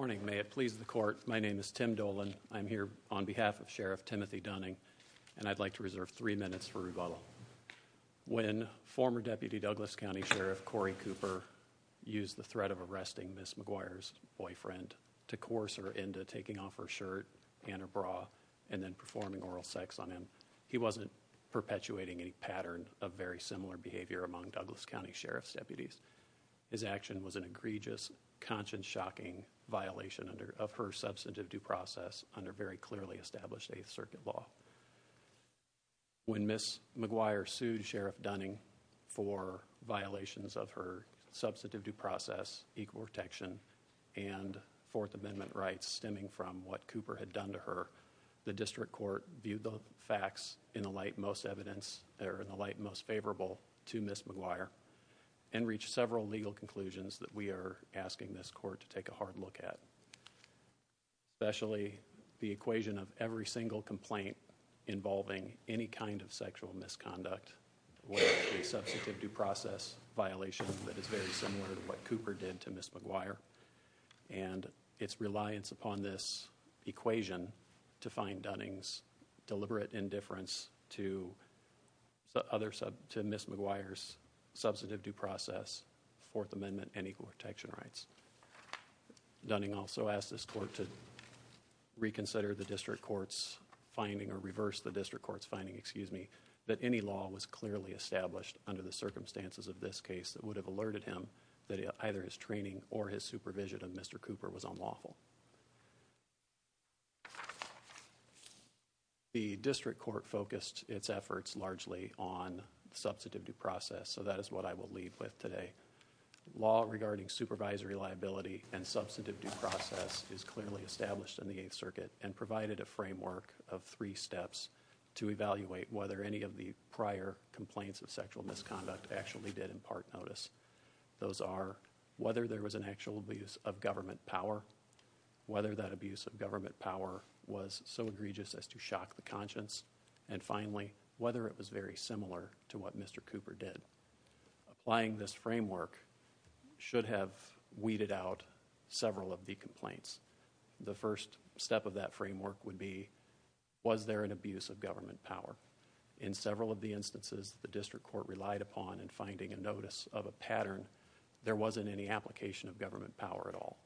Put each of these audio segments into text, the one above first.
Morning. May it please the court. My name is Tim Dolan. I'm here on behalf of Sheriff Timothy Dunning and I'd like to reserve three minutes for rebuttal. When former Deputy Douglas County Sheriff Cory Cooper used the threat of arresting Miss McGuire's boyfriend to coerce her into taking off her shirt and her bra and then performing oral sex on him, he wasn't perpetuating any pattern of very similar behavior among Douglas County Sheriff's deputies. His action was an conscience-shocking violation of her substantive due process under very clearly established Eighth Circuit law. When Miss McGuire sued Sheriff Dunning for violations of her substantive due process, equal protection, and Fourth Amendment rights stemming from what Cooper had done to her, the district court viewed the facts in the light most evidence or in the light most favorable to Miss McGuire and reached several legal conclusions that we are asking this court to take a hard look at. Especially the equation of every single complaint involving any kind of sexual misconduct with a substantive due process violation that is very similar to what Cooper did to Miss McGuire and its reliance upon this equation to find Dunning's deliberate indifference to the other sub to Miss McGuire's substantive due process, Fourth Amendment, and equal protection rights. Dunning also asked this court to reconsider the district court's finding or reverse the district court's finding, excuse me, that any law was clearly established under the circumstances of this case that would have alerted him that either his training or his supervision of Mr. Cooper was unlawful. The district court focused its efforts largely on substantive due process so that is what I will leave with today. Law regarding supervisory liability and substantive due process is clearly established in the Eighth Circuit and provided a framework of three steps to evaluate whether any of the prior complaints of sexual misconduct actually did impart notice. Those are whether there was an actual abuse of government power, whether that abuse of government power was so egregious as to shock the conscience, and finally whether it was very similar to what Mr. Cooper did. Applying this framework should have weeded out several of the complaints. The first step of that framework would be was there an abuse of government power? In several of the instances the district court relied upon and finding a notice of a pattern there wasn't any application of government power at all.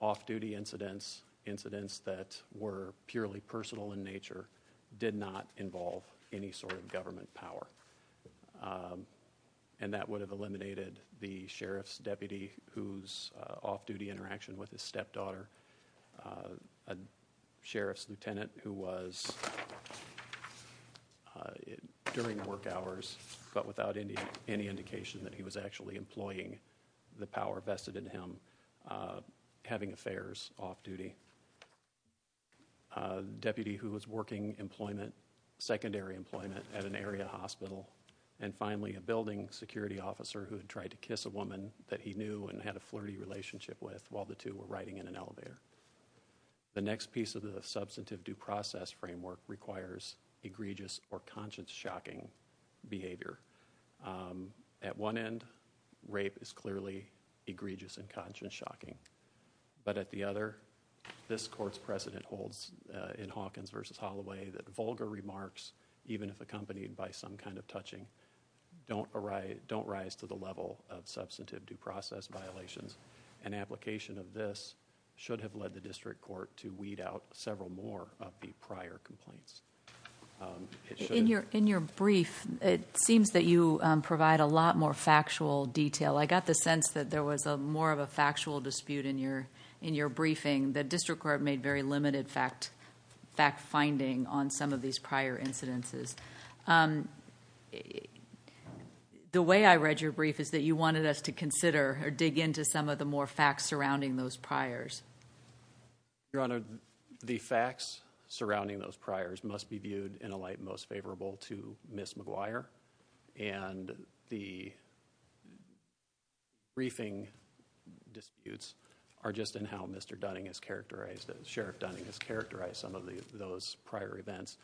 Off-duty incidents, incidents that were purely personal in nature, did not involve any sort of government power and that would have eliminated the sheriff's deputy whose off-duty interaction with his stepdaughter, a sheriff's lieutenant who was during work hours but without any indication that he was actually employing the power vested in him, having affairs off-duty, a deputy who was working employment, secondary employment at an area hospital, and finally a building security officer who had tried to kiss a woman that he knew and had a flirty relationship with while the two were riding in an elevator. The next piece of the substantive due process framework requires egregious or conscience-shocking behavior. At one end rape is clearly egregious and conscience-shocking but at the other this court's precedent holds in Hawkins versus Holloway that vulgar remarks even if accompanied by some kind of touching don't arise don't rise to the level of substantive due process violations. An application of this should have led the prior complaints. In your in your brief it seems that you provide a lot more factual detail. I got the sense that there was a more of a factual dispute in your in your briefing. The district court made very limited fact finding on some of these prior incidences. The way I read your brief is that you wanted us to consider or dig into some of the more facts surrounding those priors. Your those priors must be viewed in a light most favorable to Miss McGuire and the briefing disputes are just in how Mr. Dunning is characterized as sheriff Dunning has characterized some of the those prior events.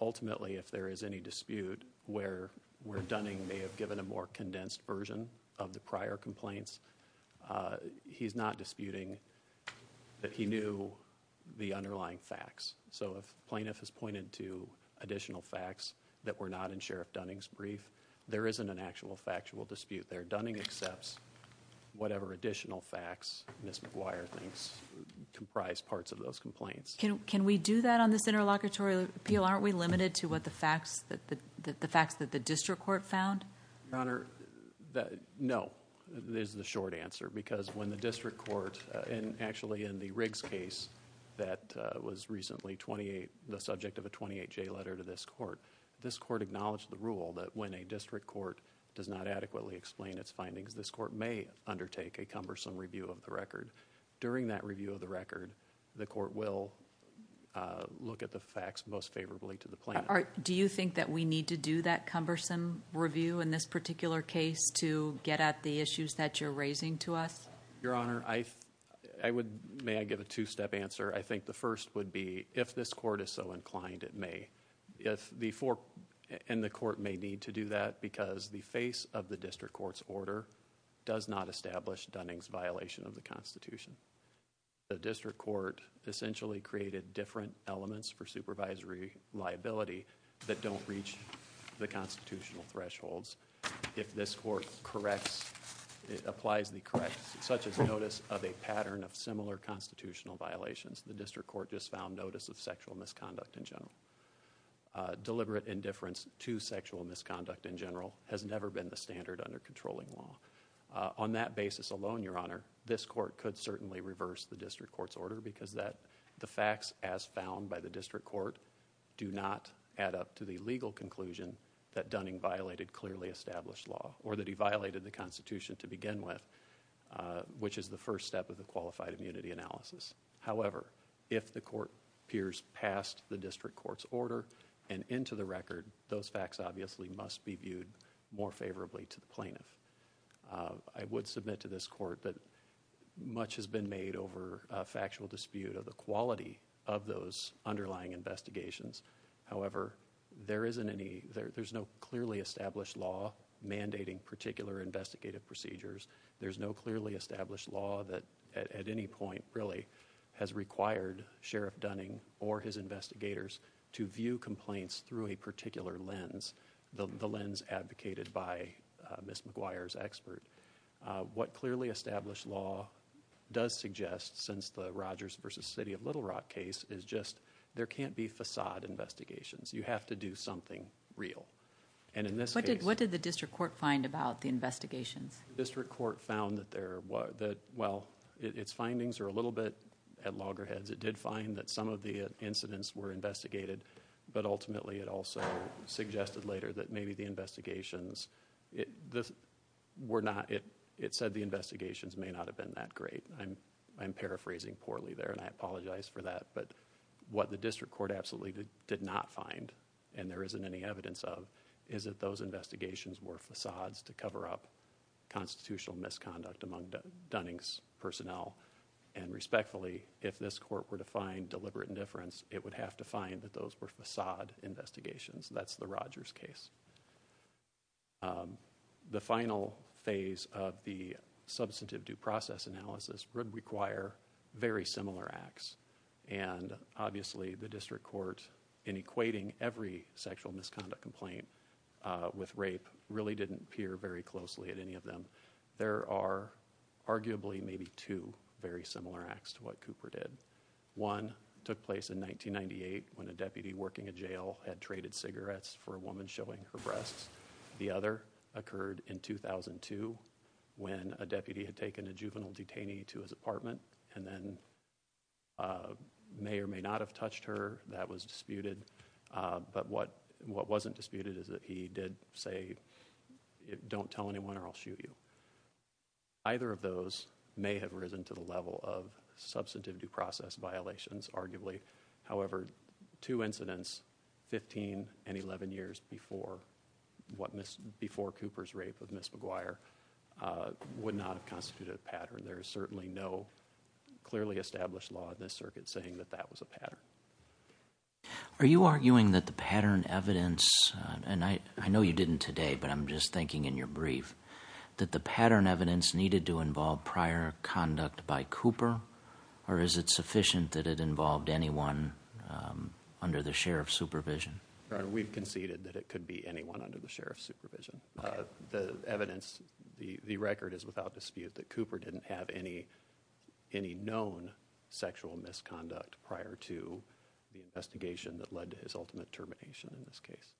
Ultimately if there is any dispute where where Dunning may have given a more condensed version of the prior complaints he's not disputing that he knew the underlying facts. So if plaintiff has pointed to additional facts that were not in Sheriff Dunning's brief there isn't an actual factual dispute there. Dunning accepts whatever additional facts Miss McGuire thinks comprise parts of those complaints. Can can we do that on this interlocutory appeal? Aren't we limited to what the is the short answer because when the district court and actually in the Riggs case that was recently 28 the subject of a 28 J letter to this court this court acknowledged the rule that when a district court does not adequately explain its findings this court may undertake a cumbersome review of the record. During that review of the record the court will look at the facts most favorably to the plaintiff. Do you think that we need to do that cumbersome review in this particular case to get at the issues that you're raising to us? Your Honor I I would may I give a two-step answer I think the first would be if this court is so inclined it may if the four and the court may need to do that because the face of the district courts order does not establish Dunning's violation of the Constitution. The district court essentially created different elements for supervisory liability that don't reach the if this court corrects it applies the correct such as notice of a pattern of similar constitutional violations the district court just found notice of sexual misconduct in general. Deliberate indifference to sexual misconduct in general has never been the standard under controlling law. On that basis alone Your Honor this court could certainly reverse the district courts order because that the facts as found by the district court do not add up to the the facts. I would submit to this court that the fact that the district court has not established law or that he violated the Constitution to begin with which is the first step of the qualified immunity analysis. However if the court peers past the district courts order and into the record those facts obviously must be viewed more favorably to the plaintiff. I would submit to this court that much has been made over a factual dispute of the quality of those underlying investigations. However there isn't any there's no clearly established law mandating particular investigative procedures. There's no clearly established law that at any point really has required Sheriff Dunning or his investigators to view complaints through a particular lens. The lens advocated by Ms. McGuire's expert. What clearly established law does suggest since the there can't be facade investigations. You have to do something real and in this case. What did the district court find about the investigations? The district court found that there was that well its findings are a little bit at loggerheads. It did find that some of the incidents were investigated but ultimately it also suggested later that maybe the investigations it this we're not it it said the investigations may not have been that great. I'm The district court absolutely did not find and there isn't any evidence of is that those investigations were facades to cover up constitutional misconduct among Dunning's personnel and respectfully if this court were to find deliberate indifference it would have to find that those were facade investigations. That's the Rogers case. The final phase of the substantive due The district court in equating every sexual misconduct complaint with rape really didn't peer very closely at any of them. There are arguably maybe two very similar acts to what Cooper did. One took place in 1998 when a deputy working a jail had traded cigarettes for a woman showing her breasts. The other occurred in 2002 when a deputy had taken a juvenile detainee to his apartment and then may or may not have touched her. That was disputed but what what wasn't disputed is that he did say don't tell anyone or I'll shoot you. Either of those may have risen to the level of substantive due process violations arguably however two incidents 15 and 11 years before what Miss before Cooper's rape of Miss McGuire would not have constituted a pattern. There is clearly established law in this circuit saying that that was a pattern. Are you arguing that the pattern evidence and I I know you didn't today but I'm just thinking in your brief that the pattern evidence needed to involve prior conduct by Cooper or is it sufficient that it involved anyone under the sheriff's supervision? We've conceded that it could be anyone under the sheriff's supervision. The evidence the record is without dispute that Cooper didn't have any any known sexual misconduct prior to the investigation that led to his ultimate termination in this case.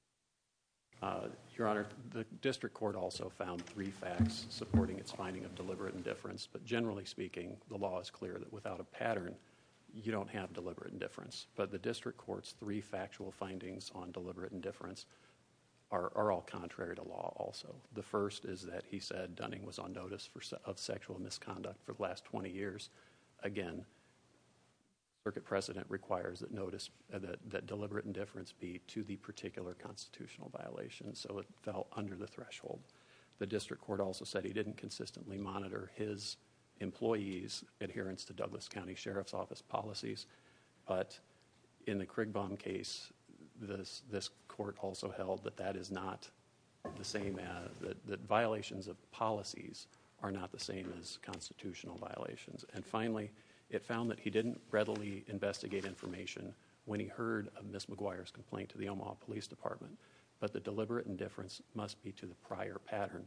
Your honor the district court also found three facts supporting its finding of deliberate indifference but generally speaking the law is clear that without a pattern you don't have deliberate indifference but the district courts three factual findings on deliberate indifference are all contrary to law also. The first is that he said Dunning was on notice for sexual misconduct for the last 20 years. Again circuit precedent requires that notice that deliberate indifference be to the particular constitutional violation so it fell under the threshold. The district court also said he didn't consistently monitor his employees adherence to Douglas County Sheriff's Office policies but in the Krigbaum case this this court also held that that is not the same that the violations of policies are not the same as constitutional violations and finally it found that he didn't readily investigate information when he heard of Miss McGuire's complaint to the Omaha Police Department but the deliberate indifference must be to the prior pattern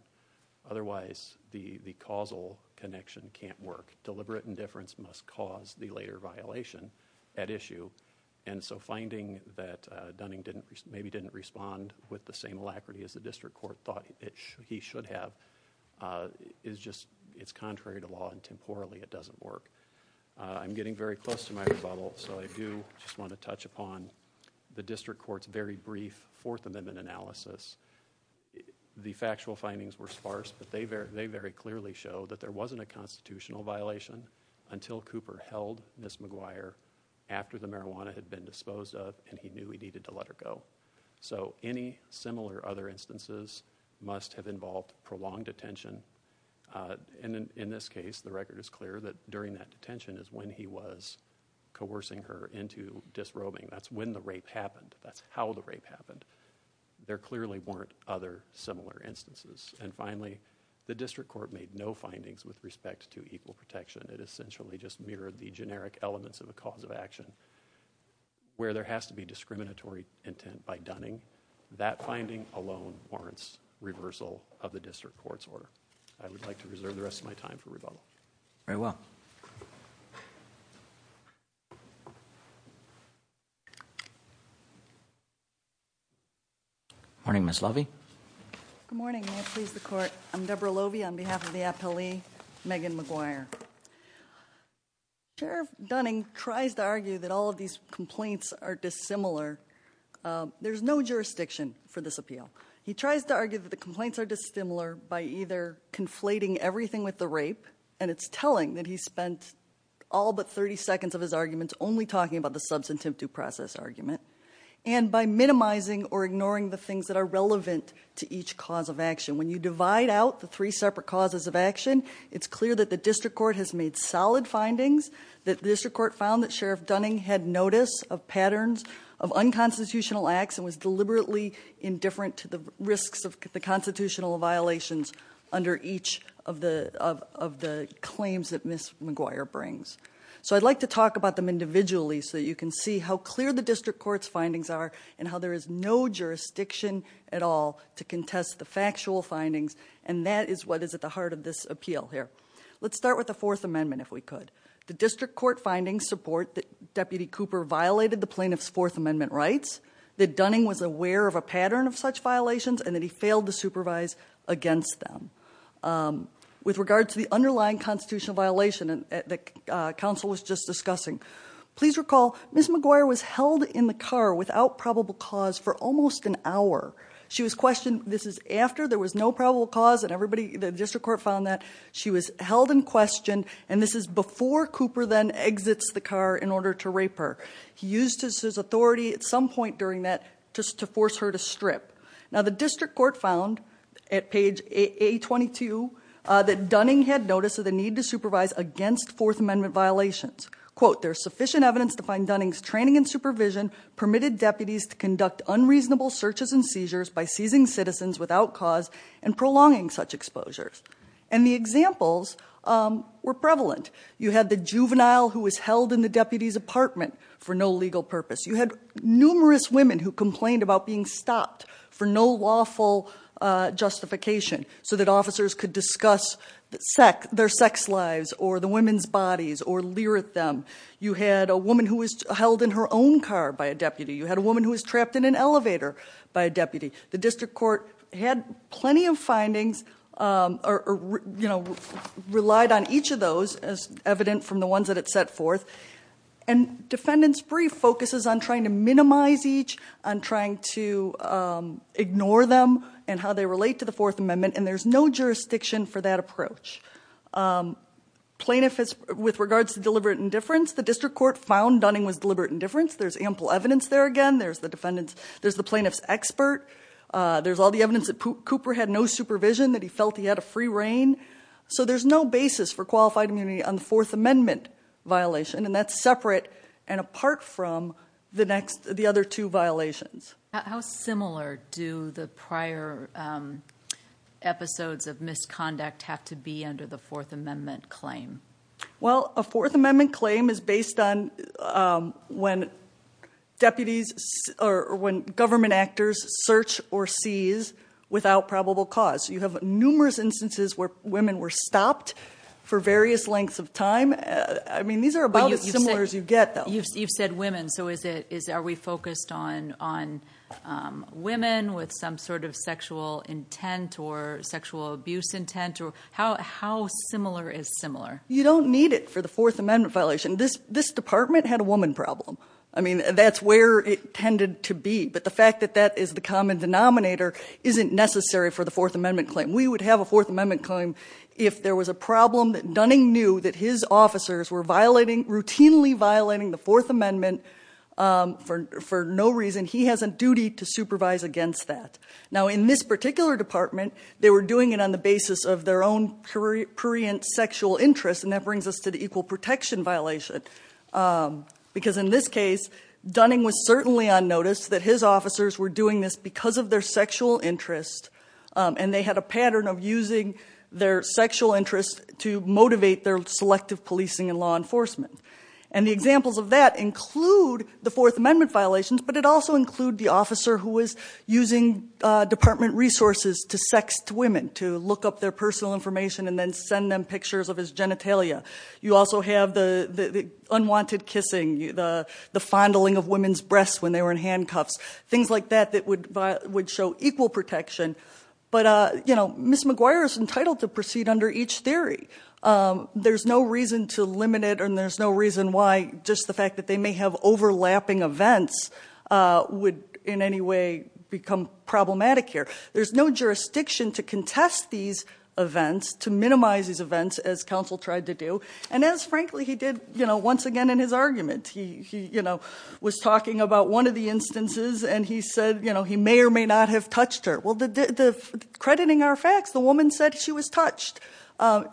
otherwise the the causal connection can't work. Deliberate indifference must cause the later violation at issue and so finding that maybe didn't respond with the same alacrity as the district court thought it should he should have is just it's contrary to law and temporally it doesn't work. I'm getting very close to my rebuttal so I do just want to touch upon the district courts very brief Fourth Amendment analysis. The factual findings were sparse but they very they very clearly show that there wasn't a been disposed of and he knew he needed to let her go so any similar other instances must have involved prolonged detention and in this case the record is clear that during that detention is when he was coercing her into disrobing that's when the rape happened that's how the rape happened there clearly weren't other similar instances and finally the district court made no findings with respect to equal protection it essentially just mirrored the generic elements of a cause of action where there has to be discriminatory intent by Dunning that finding alone warrants reversal of the district court's order I would like to reserve the rest of my time for rebuttal. Very well. Morning Ms. Lovey. Good morning may it please the court I'm Debra Lovey on behalf of the Dunning tries to argue that all of these complaints are dissimilar there's no jurisdiction for this appeal he tries to argue that the complaints are dissimilar by either conflating everything with the rape and it's telling that he spent all but 30 seconds of his arguments only talking about the substantive due process argument and by minimizing or ignoring the things that are relevant to each cause of action when you divide out the three separate causes of action it's clear that the district court has made solid findings that the district court found that Sheriff Dunning had notice of patterns of unconstitutional acts and was deliberately indifferent to the risks of the constitutional violations under each of the of the claims that Ms. McGuire brings so I'd like to talk about them individually so you can see how clear the district courts findings are and how there is no jurisdiction at all to contest the factual findings and that is what is at the heart of this appeal here let's start with the Fourth Amendment if we could the district court findings support that Deputy Cooper violated the plaintiff's Fourth Amendment rights that Dunning was aware of a pattern of such violations and that he failed to supervise against them with regard to the underlying constitutional violation and the council was just discussing please recall Ms. McGuire was held in the car without probable cause for almost an hour she was questioned this is after there was no probable cause and everybody the district court found that she was held in question and this is before Cooper then exits the car in order to rape her he used his authority at some point during that just to force her to strip now the district court found at page a 22 that Dunning had notice of the need to supervise against Fourth Amendment violations quote there's sufficient evidence to find Dunning's training and supervision permitted deputies to conduct unreasonable searches and seizures by prolonging such exposures and the examples were prevalent you had the juvenile who was held in the deputies apartment for no legal purpose you had numerous women who complained about being stopped for no lawful justification so that officers could discuss their sex lives or the women's bodies or leer at them you had a woman who was held in her own car by a deputy you had a woman who was trapped in an elevator by a deputy the district court had plenty of findings or you know relied on each of those as evident from the ones that it set forth and defendants brief focuses on trying to minimize each on trying to ignore them and how they relate to the Fourth Amendment and there's no jurisdiction for that approach plaintiff is with regards to deliberate indifference the district court found Dunning was deliberate indifference there's ample evidence there again there's the defendants there's the plaintiff's expert there's all the evidence that Cooper had no supervision that he felt he had a free rein so there's no basis for qualified immunity on the Fourth Amendment violation and that's separate and apart from the next the other two violations how similar do the prior episodes of misconduct have to be under the Fourth Amendment claim well a Fourth Amendment claim is based on when deputies or when government actors search or seize without probable cause you have numerous instances where women were stopped for various lengths of time I mean these are about as similar as you get though you've said women so is it is are we focused on on women with some sort of sexual intent or sexual abuse intent or how similar is similar you don't need it for the Fourth Amendment violation this this department had a woman problem I mean that's where it tended to be but the fact that that is the common denominator isn't necessary for the Fourth Amendment claim we would have a Fourth Amendment claim if there was a problem that Dunning knew that his officers were violating routinely violating the Fourth Amendment for for no reason he has a duty to supervise against that now in this particular department they were doing it on the basis of their own period sexual interest and that brings us to equal protection violation because in this case Dunning was certainly on notice that his officers were doing this because of their sexual interest and they had a pattern of using their sexual interest to motivate their selective policing and law enforcement and the examples of that include the Fourth Amendment violations but it also include the officer who was using department resources to sext women to look up their personal information and then send them pictures of his genitalia you also have the the unwanted kissing the the fondling of women's breasts when they were in handcuffs things like that that would but would show equal protection but uh you know Miss McGuire is entitled to proceed under each theory there's no reason to limit it and there's no reason why just the fact that they may have overlapping events would in any way become problematic here there's no jurisdiction to contest these events to as counsel tried to do and as frankly he did you know once again in his argument he you know was talking about one of the instances and he said you know he may or may not have touched her well the crediting our facts the woman said she was touched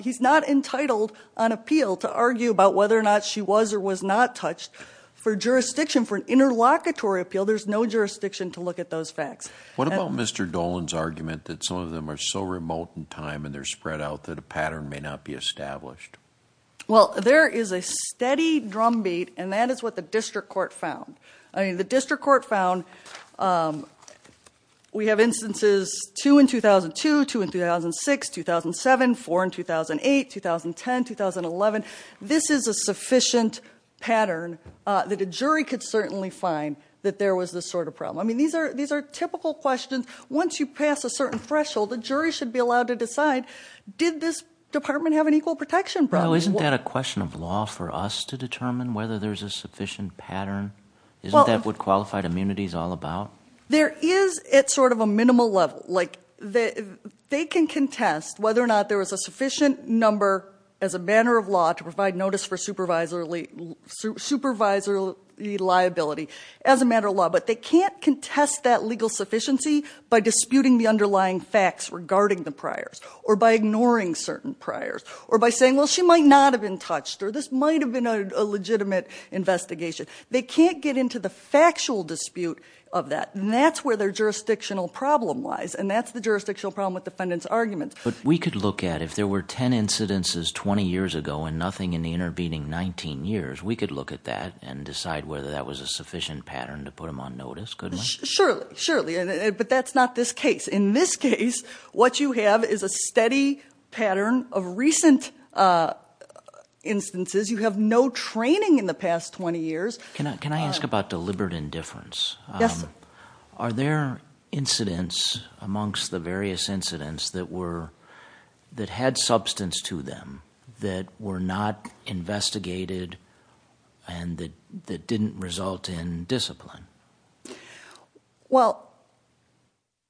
he's not entitled on appeal to argue about whether or not she was or was not touched for jurisdiction for an interlocutory appeal there's no jurisdiction to look at those facts what about mr. Dolan's argument that some of them are so remote in time and they're spread out that a pattern may not be established well there is a steady drumbeat and that is what the district court found I mean the district court found we have instances two in 2002 two in 2006 2007 four in 2008 2010 2011 this is a sufficient pattern that a jury could certainly find that there was this sort of problem I mean these are these are typical questions once you pass a certain threshold the jury should be allowed to decide did this department have an equal protection probably isn't that a question of law for us to determine whether there's a sufficient pattern isn't that what qualified immunity is all about there is it's sort of a minimal level like that they can contest whether or not there was a sufficient number as a matter of law to provide notice for supervisory supervisory liability as a matter of law but they can't contest that legal sufficiency by disputing the underlying facts regarding the priors or by ignoring certain priors or by saying well she might not have been touched or this might have been a legitimate investigation they can't get into the factual dispute of that and that's where their jurisdictional problem lies and that's the jurisdictional problem with defendants arguments but we could look at if there were ten incidences 20 years ago and nothing in the intervening 19 years we could look at that and decide whether that was a sufficient pattern to but that's not this case in this case what you have is a steady pattern of recent instances you have no training in the past 20 years can I can I ask about deliberate indifference yes are there incidents amongst the various incidents that were that had substance to them that were not investigated and that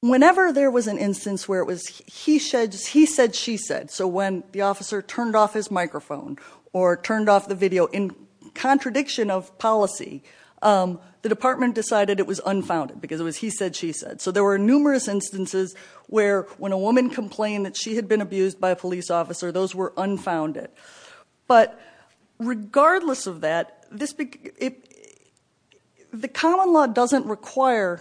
whenever there was an instance where it was he sheds he said she said so when the officer turned off his microphone or turned off the video in contradiction of policy the department decided it was unfounded because it was he said she said so there were numerous instances where when a woman complained that she had been abused by a police officer those were unfounded but regardless of that the common law doesn't require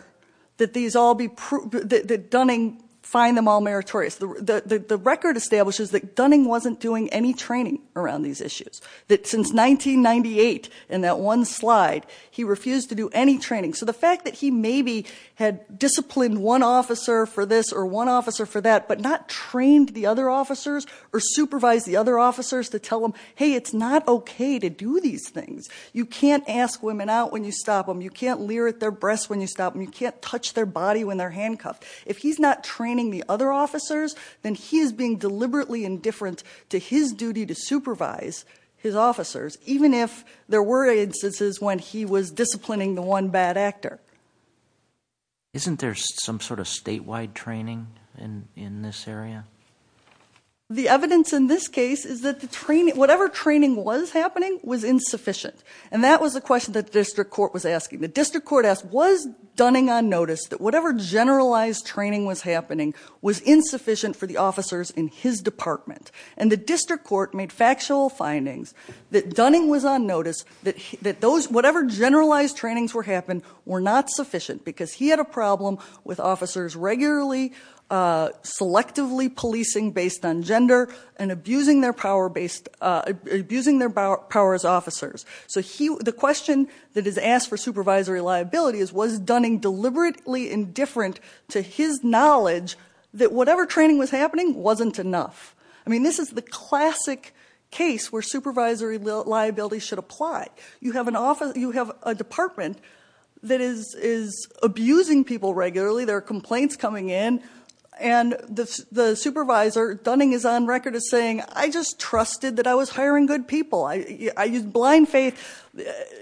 that these all be proven that Dunning find them all meritorious the record establishes that Dunning wasn't doing any training around these issues that since 1998 and that one slide he refused to do any training so the fact that he maybe had disciplined one officer for this or one officer for that but not trained the other officers or supervise the other officers to tell them hey it's not okay to do these things you can't ask women out when you stop them you can't leer at their breasts when you stop them you can't touch their body when they're handcuffed if he's not training the other officers then he is being deliberately indifferent to his duty to supervise his officers even if there were instances when he was disciplining the one bad actor isn't there's some sort of statewide training in in this area the evidence in this case is that the training whatever training was happening was insufficient and that was the question that the district court was asking the district court asked was Dunning on notice that whatever generalized training was happening was insufficient for the officers in his department and the district court made factual findings that Dunning was on notice that that those whatever generalized trainings were happened were not sufficient because he had a problem with officers regularly selectively policing based on gender and abusing their power based abusing their power as officers so he the question that is asked for supervisory liability is was Dunning deliberately indifferent to his knowledge that whatever training was happening wasn't enough I mean this is the classic case where supervisory liability should apply you have an office you have a department that is is abusing people regularly there are complaints coming in and the supervisor Dunning is on record as saying I just trusted that I was hiring good people I used blind faith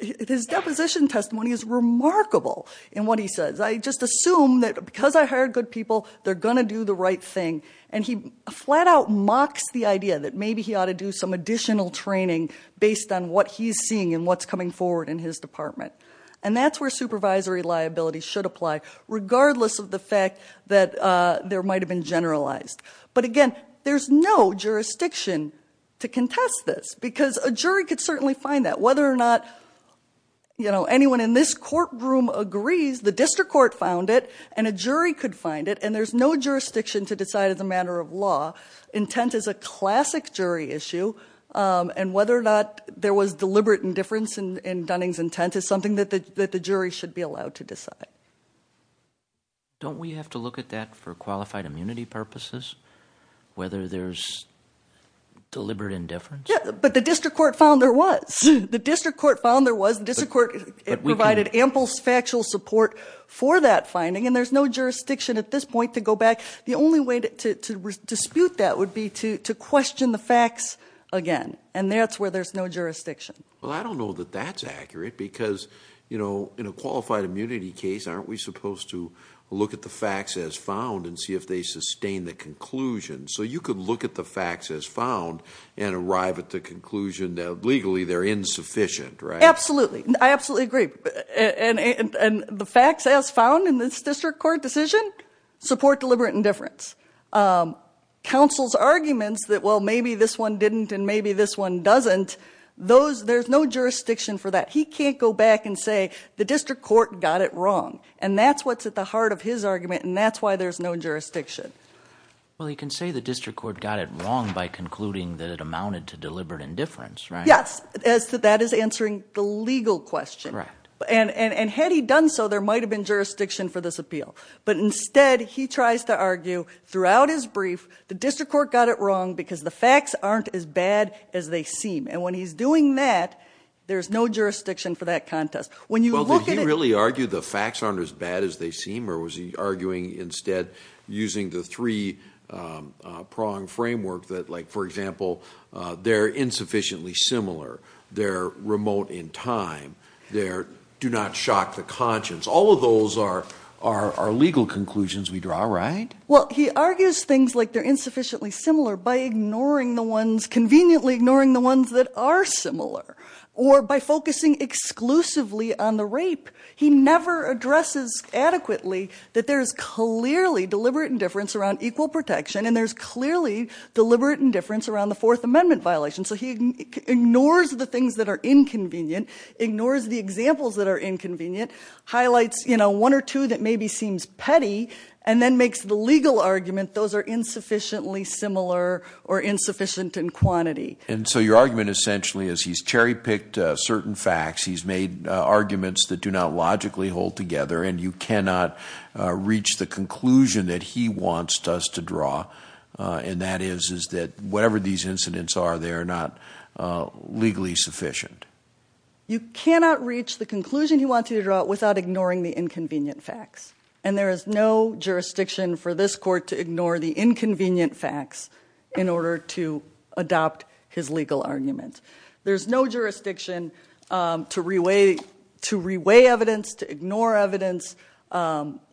his deposition testimony is remarkable in what he says I just assume that because I hired good people they're gonna do the right thing and he flat-out mocks the idea that maybe he ought to do some additional training based on what he's seeing and what's coming forward in his department and that's where supervisory liability should apply regardless of the fact that there might have been generalized but again there's no jurisdiction to contest this because a jury could certainly find that whether or not you know anyone in this courtroom agrees the district court found it and a jury could find it and there's no jurisdiction to decide as a matter of law intent is a classic jury issue and whether or not there was deliberate indifference in Dunning's intent is something that the jury should be allowed to decide don't we have to look at that for qualified immunity purposes whether there's deliberate indifference but the district court found there was the district court found there was the district court provided ample factual support for that finding and there's no jurisdiction at this point to go back the only way to dispute that would be to question the facts again and that's where there's no jurisdiction well I don't know that that's accurate because you know in a qualified immunity case aren't we supposed to look at the facts as found and see if they sustain the conclusion so you could look at the facts as found and arrive at the conclusion that legally they're insufficient right absolutely I absolutely agree and the facts as found in this district court decision support deliberate indifference counsel's arguments that well maybe this one didn't and maybe this one doesn't those there's no jurisdiction for that he can't go back and say the district court got it wrong and that's what's at the heart of his argument and that's why there's no jurisdiction well you can say the district court got it wrong by concluding that it amounted to deliberate indifference yes as that is answering the legal question right and and had he done so there might have been jurisdiction for this appeal but instead he tries to argue throughout his brief the district court got it wrong because the facts aren't as bad as they seem and when he's doing that there's no jurisdiction for that contest when you look at it really argue the facts aren't as bad as they seem or was he arguing instead using the three prong framework that like for example they're insufficiently similar they're remote in time there do not shock the conscience all of those are our legal conclusions we draw right well he argues things like they're insufficiently similar by ignoring the ones conveniently ignoring the ones that are similar or by focusing exclusively on the rape he never addresses adequately that there's clearly deliberate indifference around equal protection and there's clearly deliberate indifference around the Fourth Amendment violation so he ignores the things that are inconvenient ignores the examples that are inconvenient highlights you know one or two that maybe seems petty and then makes the legal argument those are insufficiently your argument essentially is he's cherry-picked certain facts he's made arguments that do not logically hold together and you cannot reach the conclusion that he wants to us to draw and that is is that whatever these incidents are they are not legally sufficient you cannot reach the conclusion you want to draw it without ignoring the inconvenient facts and there is no jurisdiction for this court to ignore the inconvenient facts in order to adopt his legal argument there's no jurisdiction to reweight to reweigh evidence to ignore evidence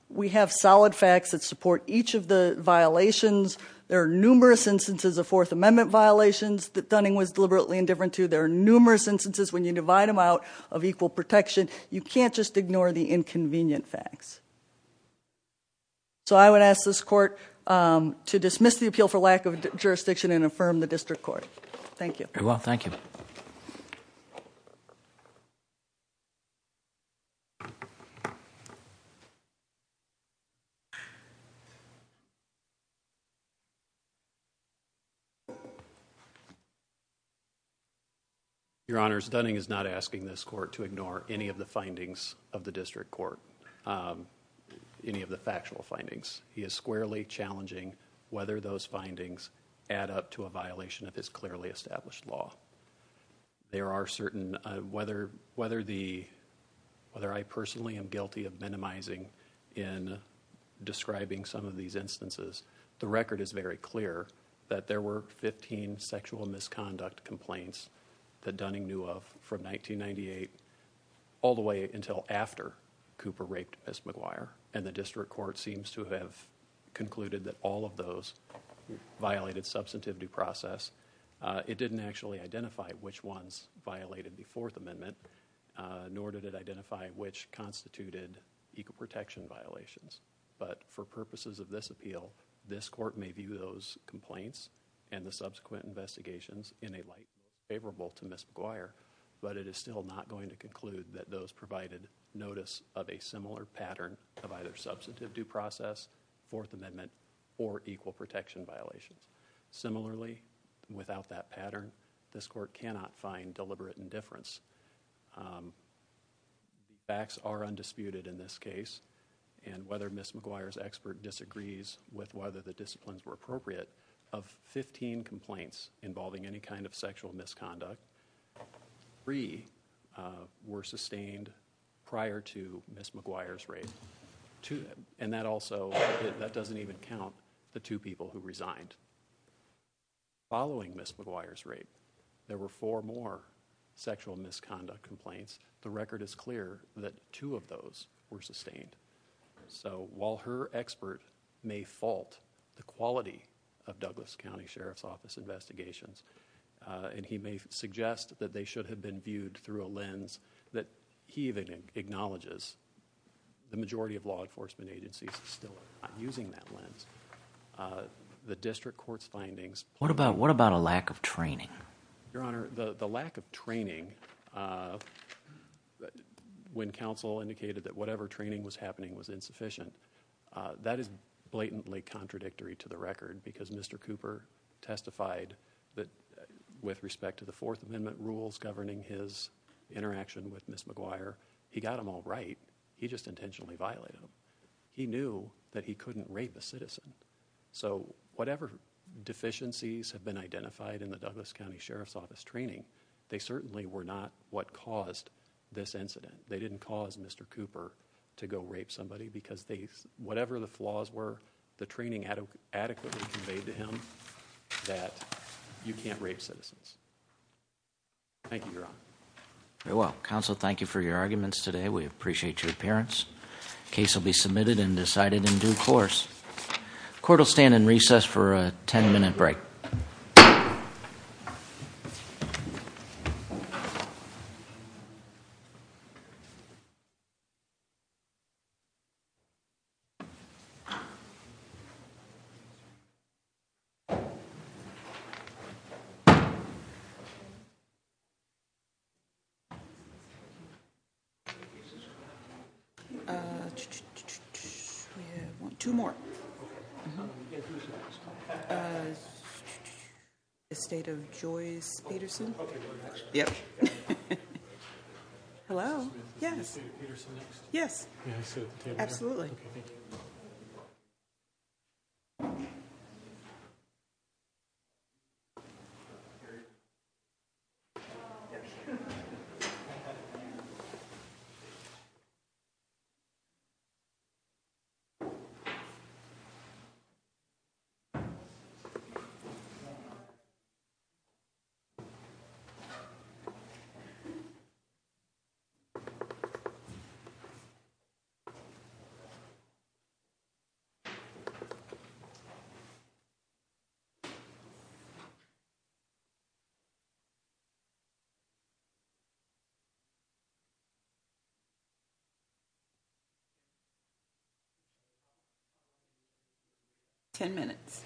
we have solid facts that support each of the violations there are numerous instances of Fourth Amendment violations that Dunning was deliberately indifferent to there are numerous instances when you divide them out of equal protection you can't just ignore the inconvenient facts so I would ask this court to dismiss the appeal for lack of jurisdiction and affirm the district court thank you very well thank you your honor stunning is not asking this court to ignore any of the findings of any of the factual findings he is squarely challenging whether those findings add up to a violation of his clearly established law there are certain whether whether the whether I personally am guilty of minimizing in describing some of these instances the record is very clear that there were 15 sexual misconduct complaints that Dunning knew of from 1998 all the way until after Cooper raped Miss McGuire and the district court seems to have concluded that all of those violated substantivity process it didn't actually identify which ones violated the Fourth Amendment nor did it identify which constituted equal protection violations but for purposes of this appeal this court may view those complaints and the subsequent investigations in a light favorable to Miss McGuire but it is still not going to conclude that those provided notice of a similar pattern of either substantive due process Fourth Amendment or equal protection violations similarly without that pattern this court cannot find deliberate indifference facts are undisputed in this case and whether Miss McGuire's expert disagrees with whether the disciplines were appropriate of 15 complaints involving any kind of sexual misconduct three were sustained prior to Miss McGuire's rape to them and that also that doesn't even count the two people who resigned following Miss McGuire's rape there were four more sexual misconduct complaints the record is clear that two of those were sustained so while her expert may fault the quality of Douglas County Sheriff's Office investigations and he may suggest that they should have been through a lens that he even acknowledges the majority of law enforcement agencies still using that lens the district courts findings what about what about a lack of training your honor the the lack of training when counsel indicated that whatever training was happening was insufficient that is blatantly contradictory to the record because mr. Cooper testified that with respect to the Fourth Amendment rules governing his interaction with Miss McGuire he got him all right he just intentionally violated him he knew that he couldn't rape a citizen so whatever deficiencies have been identified in the Douglas County Sheriff's Office training they certainly were not what caused this incident they didn't cause mr. Cooper to go rape somebody because they whatever the flaws were the training had adequately conveyed to him that you thank you very well counsel thank you for your arguments today we appreciate your appearance case will be submitted and decided in due course court will stand in recess for a 10-minute break you two more the state of Joyce Peterson yep hello yes yes absolutely you you 10 minutes you